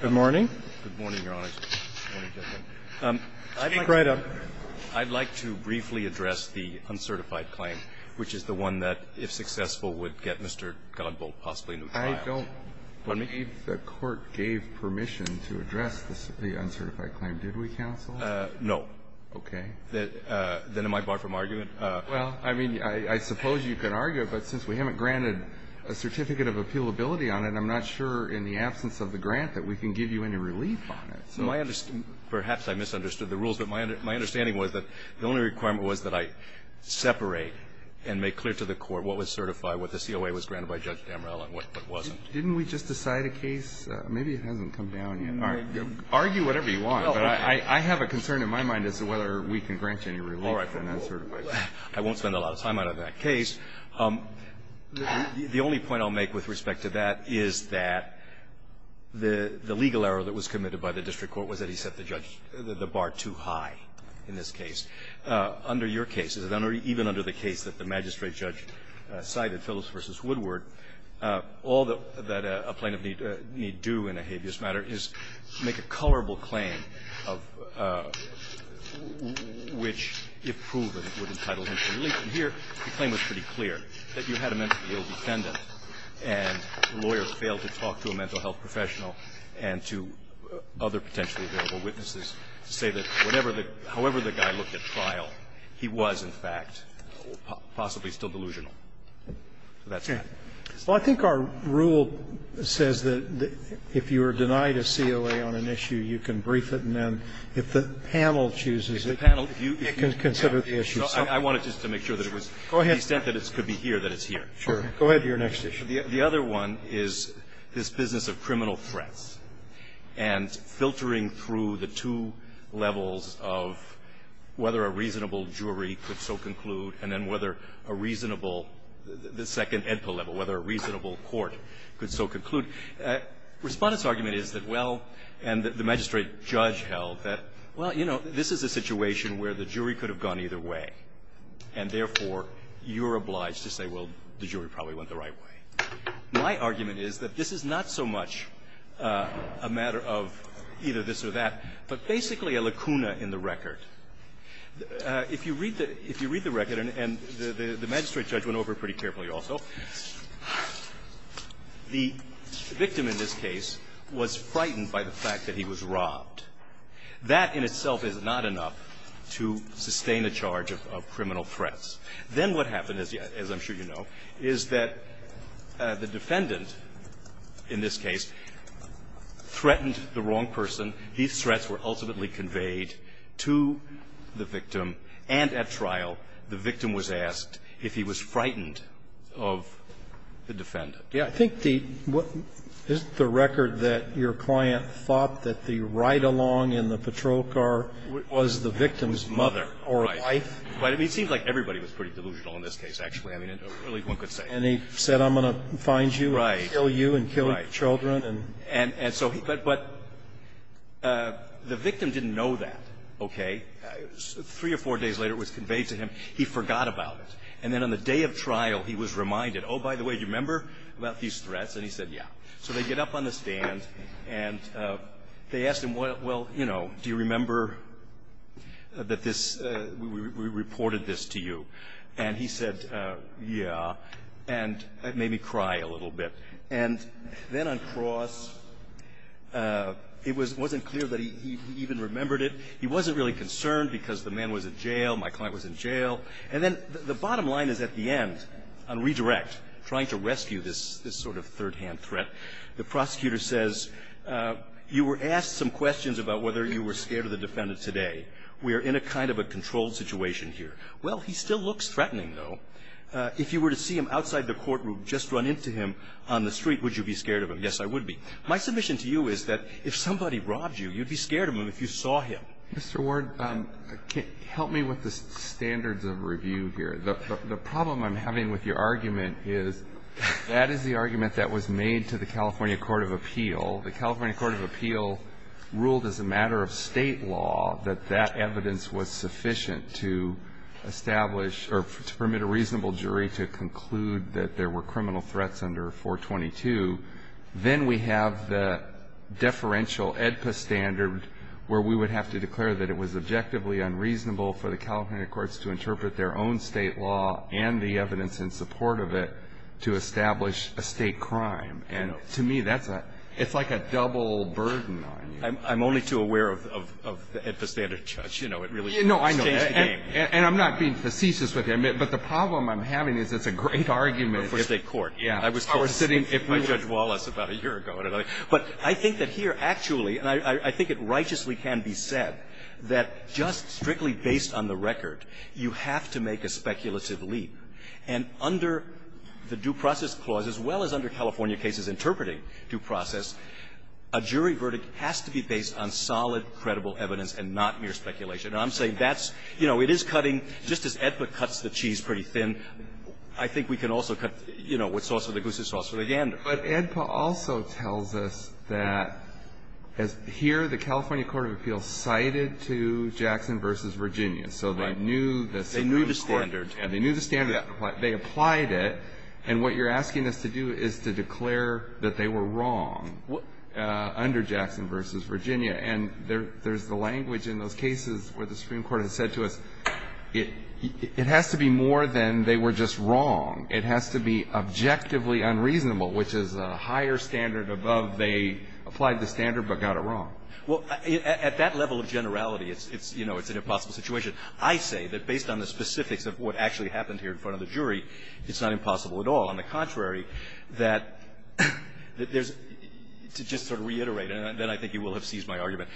Good morning, Your Honor. I'd like to briefly address the uncertified claim, which is the one that, if successful, would get Mr. Godbouldt possibly in a trial. I don't believe the Court gave permission to address the uncertified claim. Did we, counsel? No. Okay. Then am I barred from arguing? Well, I mean, I suppose you can argue, but since we haven't granted a certificate of appealability on it, I'm not sure, in the absence of the grant, that we can give you any relief on it. Perhaps I misunderstood the rules, but my understanding was that the only requirement was that I separate and make clear to the Court what was certified, what the COA was granted by Judge Damrell, and what wasn't. Didn't we just decide a case? Maybe it hasn't come down yet. Argue whatever you want, but I have a concern in my mind as to whether we can grant you any relief on that certified claim. I won't spend a lot of time on that case. The only point I'll make with respect to that is that the legal error that was committed by the district court was that he set the bar too high in this case. Under your cases, and even under the case that the magistrate judge cited, Phillips v. Woodward, all that a plaintiff need do in a habeas matter is make a colorable claim of which, if proven, would entitle him to relief. And here, the claim was pretty clear, that you had a mentally ill defendant and the lawyer failed to talk to a mental health professional and to other potentially available witnesses to say that whatever the guy, however the guy looked at trial, he was, in fact, possibly still delusional. So that's that. Well, I think our rule says that if you are denied a COA on an issue, you can brief it, and then if the panel chooses it, it can consider the issue. So I wanted just to make sure that it was to the extent that it could be here, that it's here. Sure. Go ahead to your next issue. The other one is this business of criminal threats and filtering through the two levels of whether a reasonable jury could so conclude and then whether a reasonable the second level, whether a reasonable court could so conclude. Respondent's argument is that, well, and the magistrate judge held that, well, you know, this is a situation where the jury could have gone either way, and therefore you're obliged to say, well, the jury probably went the right way. My argument is that this is not so much a matter of either this or that, but basically a lacuna in the record. If you read the record, and the magistrate judge went over it pretty carefully also, the victim in this case was frightened by the fact that he was robbed. That in itself is not enough to sustain a charge of criminal threats. Then what happened, as I'm sure you know, is that the defendant in this case threatened the wrong person. These threats were ultimately conveyed to the victim. And at trial, the victim was asked if he was frightened of the defendant. Yeah. I think the what is the record that your client thought that the ride-along in the patrol car was the victim's mother or wife? It seems like everybody was pretty delusional in this case, actually. I mean, at least one could say. And he said, I'm going to find you and kill you and kill your children. But the victim didn't know that, okay? Three or four days later, it was conveyed to him. He forgot about it. And then on the day of trial, he was reminded, oh, by the way, do you remember about these threats? And he said, yeah. So they get up on the stand, and they asked him, well, you know, do you remember that this we reported this to you? And he said, yeah. And it made me cry a little bit. And then on cross, it was wasn't clear that he even remembered it. He wasn't really concerned because the man was in jail. My client was in jail. And then the bottom line is at the end, on redirect, trying to rescue this sort of third-hand threat, the prosecutor says, you were asked some questions about whether you were scared of the defendant today. We are in a kind of a controlled situation here. Well, he still looks threatening, though. If you were to see him outside the courtroom, just run into him on the street, would you be scared of him? Yes, I would be. My submission to you is that if somebody robbed you, you'd be scared of them if you saw him. Mr. Ward, help me with the standards of review here. The problem I'm having with your argument is that is the argument that was made to the California Court of Appeal. The California Court of Appeal ruled as a matter of State law that that evidence was sufficient to establish or permit a reasonable jury to conclude that there were criminal threats under 422. Then we have the deferential AEDPA standard where we would have to declare that it was objectively unreasonable for the California courts to interpret their own State law and the evidence in support of it to establish a State crime. And to me, that's a – it's like a double burden on you. I'm only too aware of the AEDPA standard, Judge. You know, it really changed the game. No, I know. And I'm not being facetious with you. But the problem I'm having is it's a great argument in the State court. Yeah. I was told by Judge Wallace about a year ago or another. But I think that here actually, and I think it righteously can be said, that just strictly based on the record, you have to make a speculative leap. And under the Due Process Clause, as well as under California cases interpreting due process, a jury verdict has to be based on solid, credible evidence and not mere speculation. And I'm saying that's – you know, it is cutting – just as AEDPA cuts the cheese pretty thin, I think we can also cut, you know, what's sauce for the goose is sauce for the yander. But AEDPA also tells us that here the California court of appeals cited to Jackson v. Virginia. So they knew the Supreme Court. They knew the standard. And they knew the standard. They applied it. And what you're asking us to do is to declare that they were wrong under Jackson v. Virginia. And there's the language in those cases where the Supreme Court has said to us, it has to be more than they were just wrong. It has to be objectively unreasonable, which is a higher standard above they applied the standard but got it wrong. Well, at that level of generality, it's – you know, it's an impossible situation. I say that based on the specifics of what actually happened here in front of the jury, it's not impossible at all. On the contrary, that there's – to just sort of reiterate, and then I think you will have seized my argument,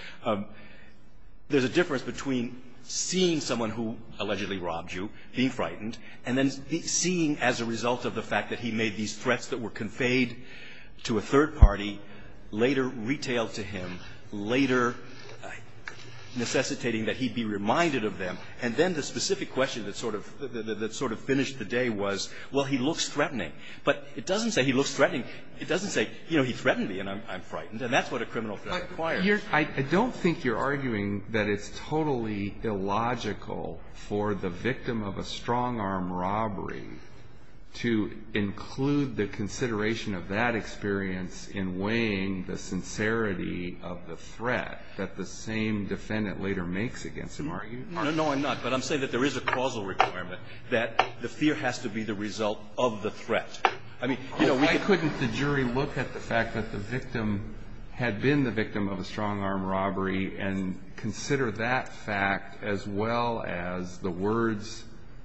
there's a difference between seeing someone who allegedly robbed you, being frightened, and then seeing as a result of the fact that he made these threats that were conveyed to a third party later retailed to him, later necessitating that he be reminded of them. And then the specific question that sort of finished the day was, well, he looks threatening. But it doesn't say he looks threatening. It doesn't say, you know, he threatened me and I'm frightened. And that's what a criminal threat requires. I don't think you're arguing that it's totally illogical for the victim of a strong-arm robbery to include the consideration of that experience in weighing the sincerity of the threat that the same defendant later makes against him. No, I'm not. But I'm saying that there is a causal requirement that the fear has to be the result of the threat. I mean, you know, we could – Why couldn't the jury look at the fact that the victim had been the victim of a strong-arm robbery and consider that fact as well as the words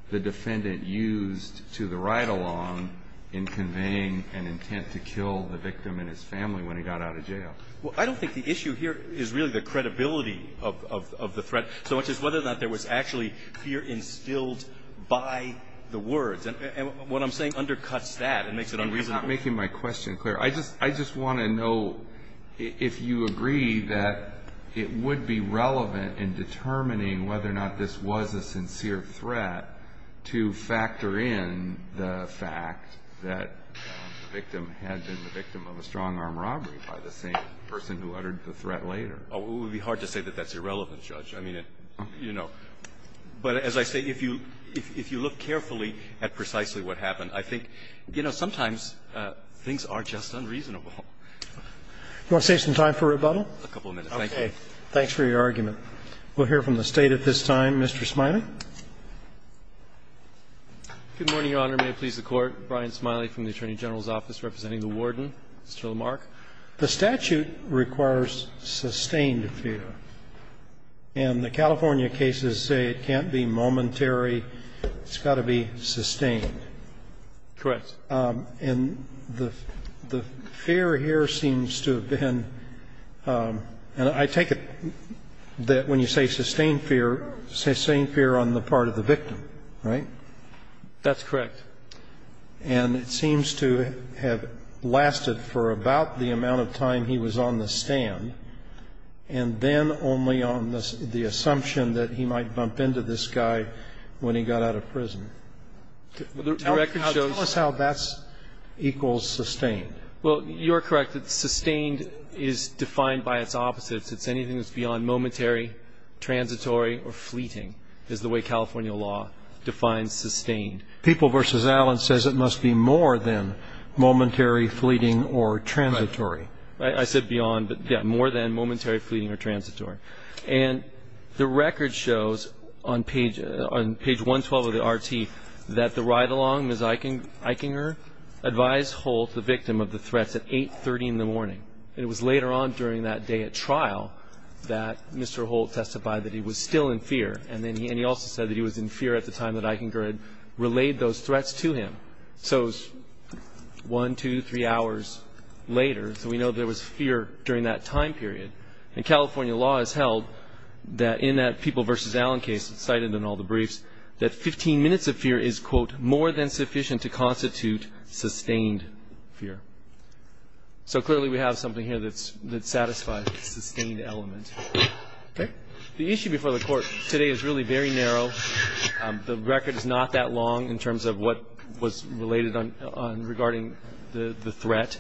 the defendant used to the ride-along in conveying an intent to kill the victim and his family when he got out of jail? Well, I don't think the issue here is really the credibility of the threat, so much whether or not there was actually fear instilled by the words. And what I'm saying undercuts that and makes it unreasonable. You're not making my question clear. I just want to know if you agree that it would be relevant in determining whether or not this was a sincere threat to factor in the fact that the victim had been the victim of a strong-arm robbery by the same person who uttered the threat later. It would be hard to say that that's irrelevant, Judge. I mean, you know. But as I say, if you look carefully at precisely what happened, I think, you know, sometimes things are just unreasonable. Do you want to save some time for rebuttal? A couple of minutes. Thank you. Okay. Thanks for your argument. We'll hear from the State at this time. Mr. Smiley. Good morning, Your Honor. May it please the Court. Brian Smiley from the Attorney General's Office representing the warden, Mr. Lamarck. The statute requires sustained fear. And the California cases say it can't be momentary. It's got to be sustained. Correct. And the fear here seems to have been, and I take it that when you say sustained fear, sustained fear on the part of the victim, right? That's correct. And it seems to have lasted for about the amount of time he was on the stand, and then only on the assumption that he might bump into this guy when he got out of prison. The record shows that. Tell us how that equals sustained. Well, you're correct. Sustained is defined by its opposites. It's anything that's beyond momentary, transitory, or fleeting is the way California law defines sustained. People v. Allen says it must be more than momentary, fleeting, or transitory. Right. I said beyond, but, yeah, more than momentary, fleeting, or transitory. And the record shows on page 112 of the RT that the ride-along, Ms. Eichinger, advised Holt, the victim of the threats, at 8.30 in the morning. It was later on during that day at trial that Mr. Holt testified that he was still in fear. And he also said that he was in fear at the time that Eichinger had relayed those threats to him. So it was one, two, three hours later. So we know there was fear during that time period. And California law has held that in that People v. Allen case, cited in all the briefs, that 15 minutes of fear is, quote, more than sufficient to constitute sustained fear. So clearly we have something here that satisfies the sustained element. Okay. The issue before the Court today is really very narrow. The record is not that long in terms of what was related on regarding the threat.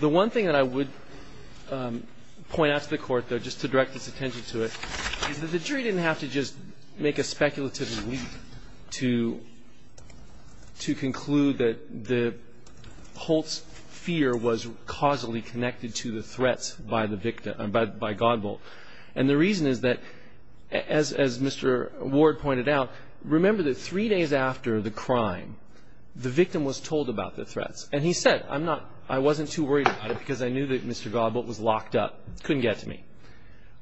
The one thing that I would point out to the Court, though, just to direct its attention to it, is that the jury didn't have to just make a speculative belief to conclude that Holt's fear was causally connected to the threats by the victim, by Godbolt. And the reason is that, as Mr. Ward pointed out, remember that three days after the crime, the victim was told about the threats. And he said, I wasn't too worried about it because I knew that Mr. Godbolt was locked up, couldn't get to me.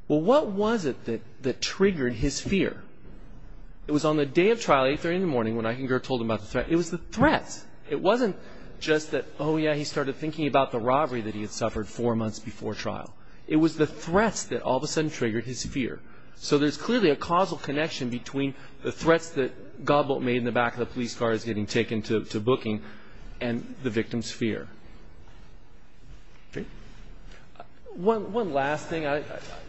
Well, what was it that triggered his fear? It was on the day of trial, 8 a.m. when Eichinger told him about the threat. It was the threats. It wasn't just that, oh, yeah, he started thinking about the robbery that he had suffered four months before trial. It was the threats that all of a sudden triggered his fear. So there's clearly a causal connection between the threats that Godbolt made in the back of the police car as he was getting taken to booking and the victim's fear. One last thing.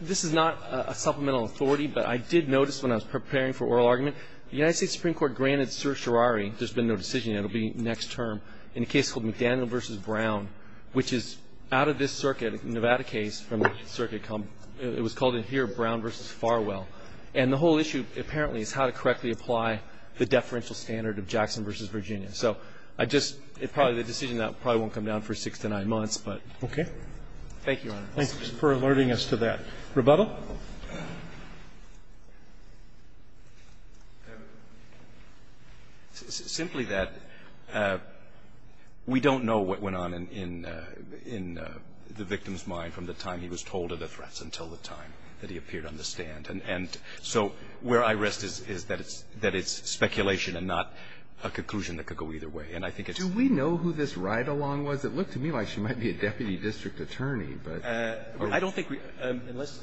This is not a supplemental authority, but I did notice when I was preparing for oral argument, the United States Supreme Court granted certiorari, there's been no decision yet, it will be next term, in a case called McDaniel v. Brown, which is out of this circuit, a Nevada case from the circuit. It was called in here Brown v. Farwell. And the whole issue apparently is how to correctly apply the deferential standard of Jackson v. Virginia. So I just, it's probably the decision that probably won't come down for six to nine months, but. Okay. Thank you, Your Honor. Thank you for alerting us to that. Rebuttal? Well, simply that we don't know what went on in the victim's mind from the time he was told of the threats until the time that he appeared on the stand. And so where I rest is that it's speculation and not a conclusion that could go either way. And I think it's. Do we know who this ride-along was? It looked to me like she might be a deputy district attorney, but. I don't think we.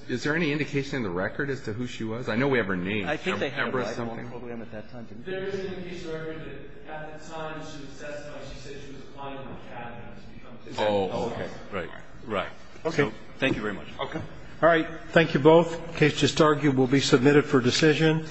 Is there any indication in the record as to who she was? I know we have her name. I think they have her. I don't know who I am at that time. There is a piece of record that at the time she was testified, she said she was applying to the cabinet. Oh, okay. Right. Right. Okay. Thank you very much. Okay. All right. Thank you both. The case just argued will be submitted for decision.